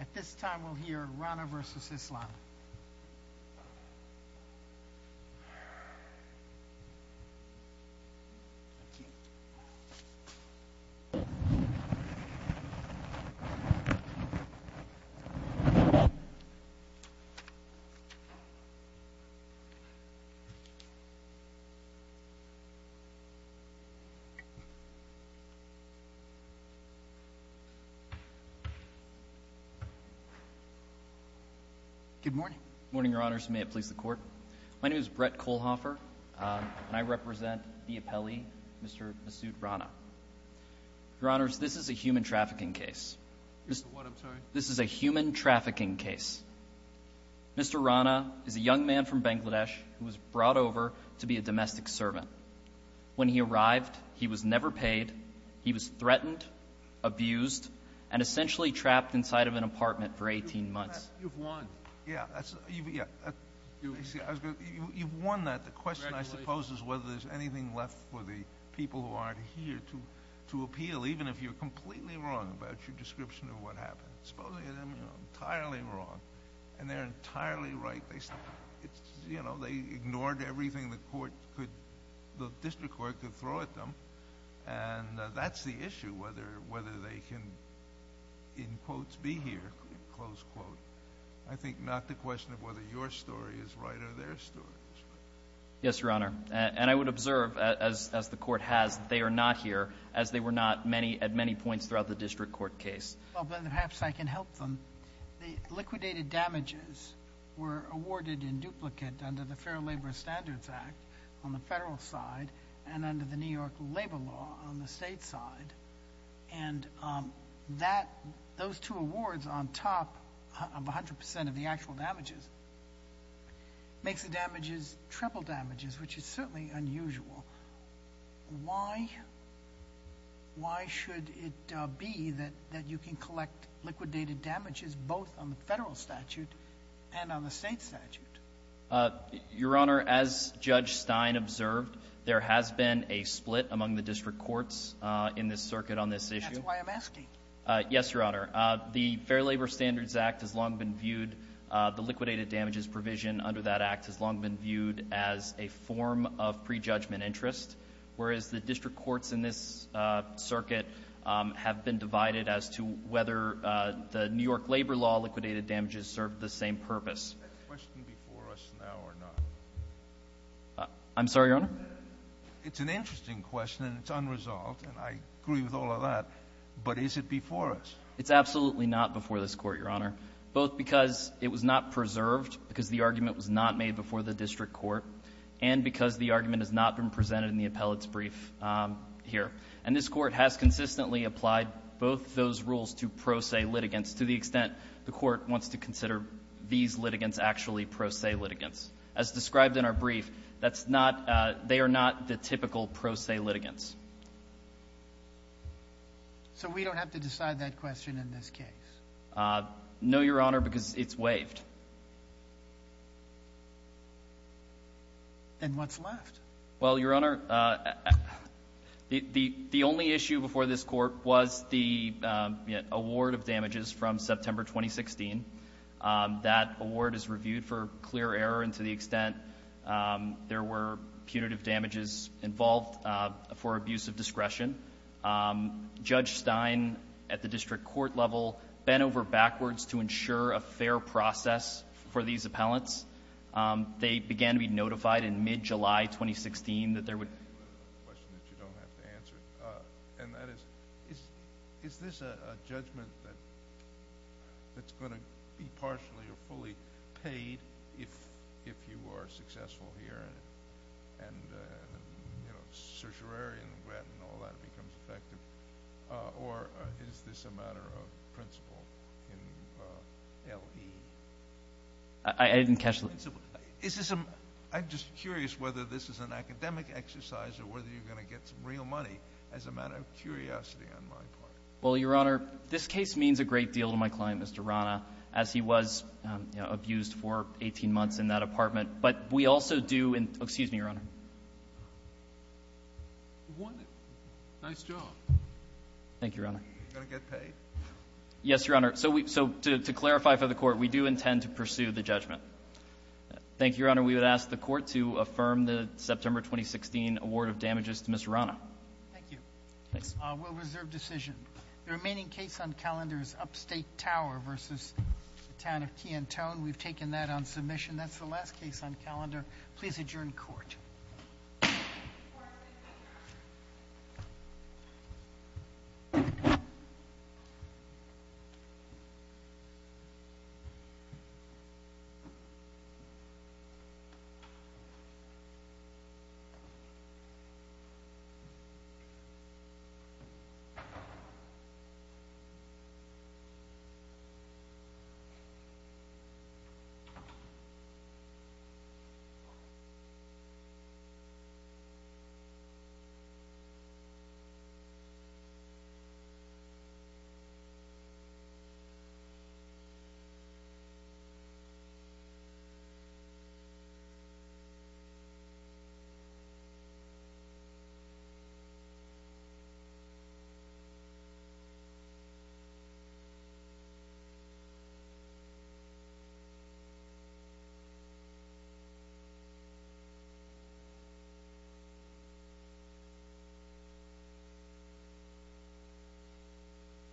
At this time we'll hear Rana v. Islam. Mr. Rana is a young man from Bangladesh who was brought over to be a domestic servant. When he arrived, he was never paid. He was threatened, abused, and essentially trapped inside of an apartment for 18 months. You've won. Yeah. You've won that. The question I suppose is whether there's anything left for the people who aren't here to appeal, even if you're completely wrong about your description of what happened. Supposing they're entirely wrong and they're entirely right. They ignored everything the district court could throw at them, and that's the issue, whether they can, in quotes, be here, close quote. I think not the question of whether your story is right or their story is right. Yes, Your Honor. And I would observe, as the court has, that they are not here, as they were not at many points throughout the district court case. Well, then perhaps I can help them. The liquidated damages were awarded in duplicate under the Fair Labor Standards Act on the federal side and under the New York labor law on the state side. And those two awards on top of 100% of the actual damages makes the damages triple damages, which is certainly unusual. Why should it be that you can collect liquidated damages both on the federal statute and on the state statute? Your Honor, as Judge Stein observed, there has been a split among the district courts in this circuit on this issue. That's why I'm asking. Yes, Your Honor. The Fair Labor Standards Act has long been viewed, the liquidated damages provision under that act has long been viewed as a form of prejudgment interest, whereas the district courts in this circuit have been divided as to whether the New York labor law liquidated damages served the same purpose. Is that question before us now or not? I'm sorry, Your Honor? It's an interesting question, and it's unresolved, and I agree with all of that, but is it before us? It's absolutely not before this Court, Your Honor, both because it was not preserved, because the argument was not made before the district court, and because the argument has not been presented in the appellate's brief here. And this Court has consistently applied both those rules to pro se litigants to the extent the Court wants to consider these litigants actually pro se litigants. As described in our brief, that's not they are not the typical pro se litigants. So we don't have to decide that question in this case? No, Your Honor, because it's waived. Then what's left? Well, Your Honor, the only issue before this Court was the award of damages from September 2016. That award is reviewed for clear error and to the extent there were punitive damages involved for abuse of discretion. Judge Stein at the district court level bent over backwards to ensure a fair process for these appellants. They began to be notified in mid-July 2016 that there would... I have a question that you don't have to answer. And that is, is this a judgment that's going to be partially or fully paid if you are successful here and, you know, certiorari and all that becomes effective? Or is this a matter of principle in L.E.? I didn't catch the... I'm just curious whether this is an academic exercise or whether you're going to get some real money as a matter of curiosity on my part. Well, Your Honor, this case means a great deal to my client, Mr. Rana, as he was abused for 18 months in that apartment. But we also do... Excuse me, Your Honor. Nice job. Thank you, Your Honor. Are you going to get paid? Yes, Your Honor. So to clarify for the Court, we do intend to pursue the judgment. Thank you, Your Honor. We would ask the Court to affirm the September 2016 award of damages to Mr. Rana. Thank you. Thanks. We'll reserve decision. The remaining case on calendar is Upstate Tower versus the town of Key and Tone. We've taken that on submission. That's the last case on calendar. Please adjourn court. Thank you.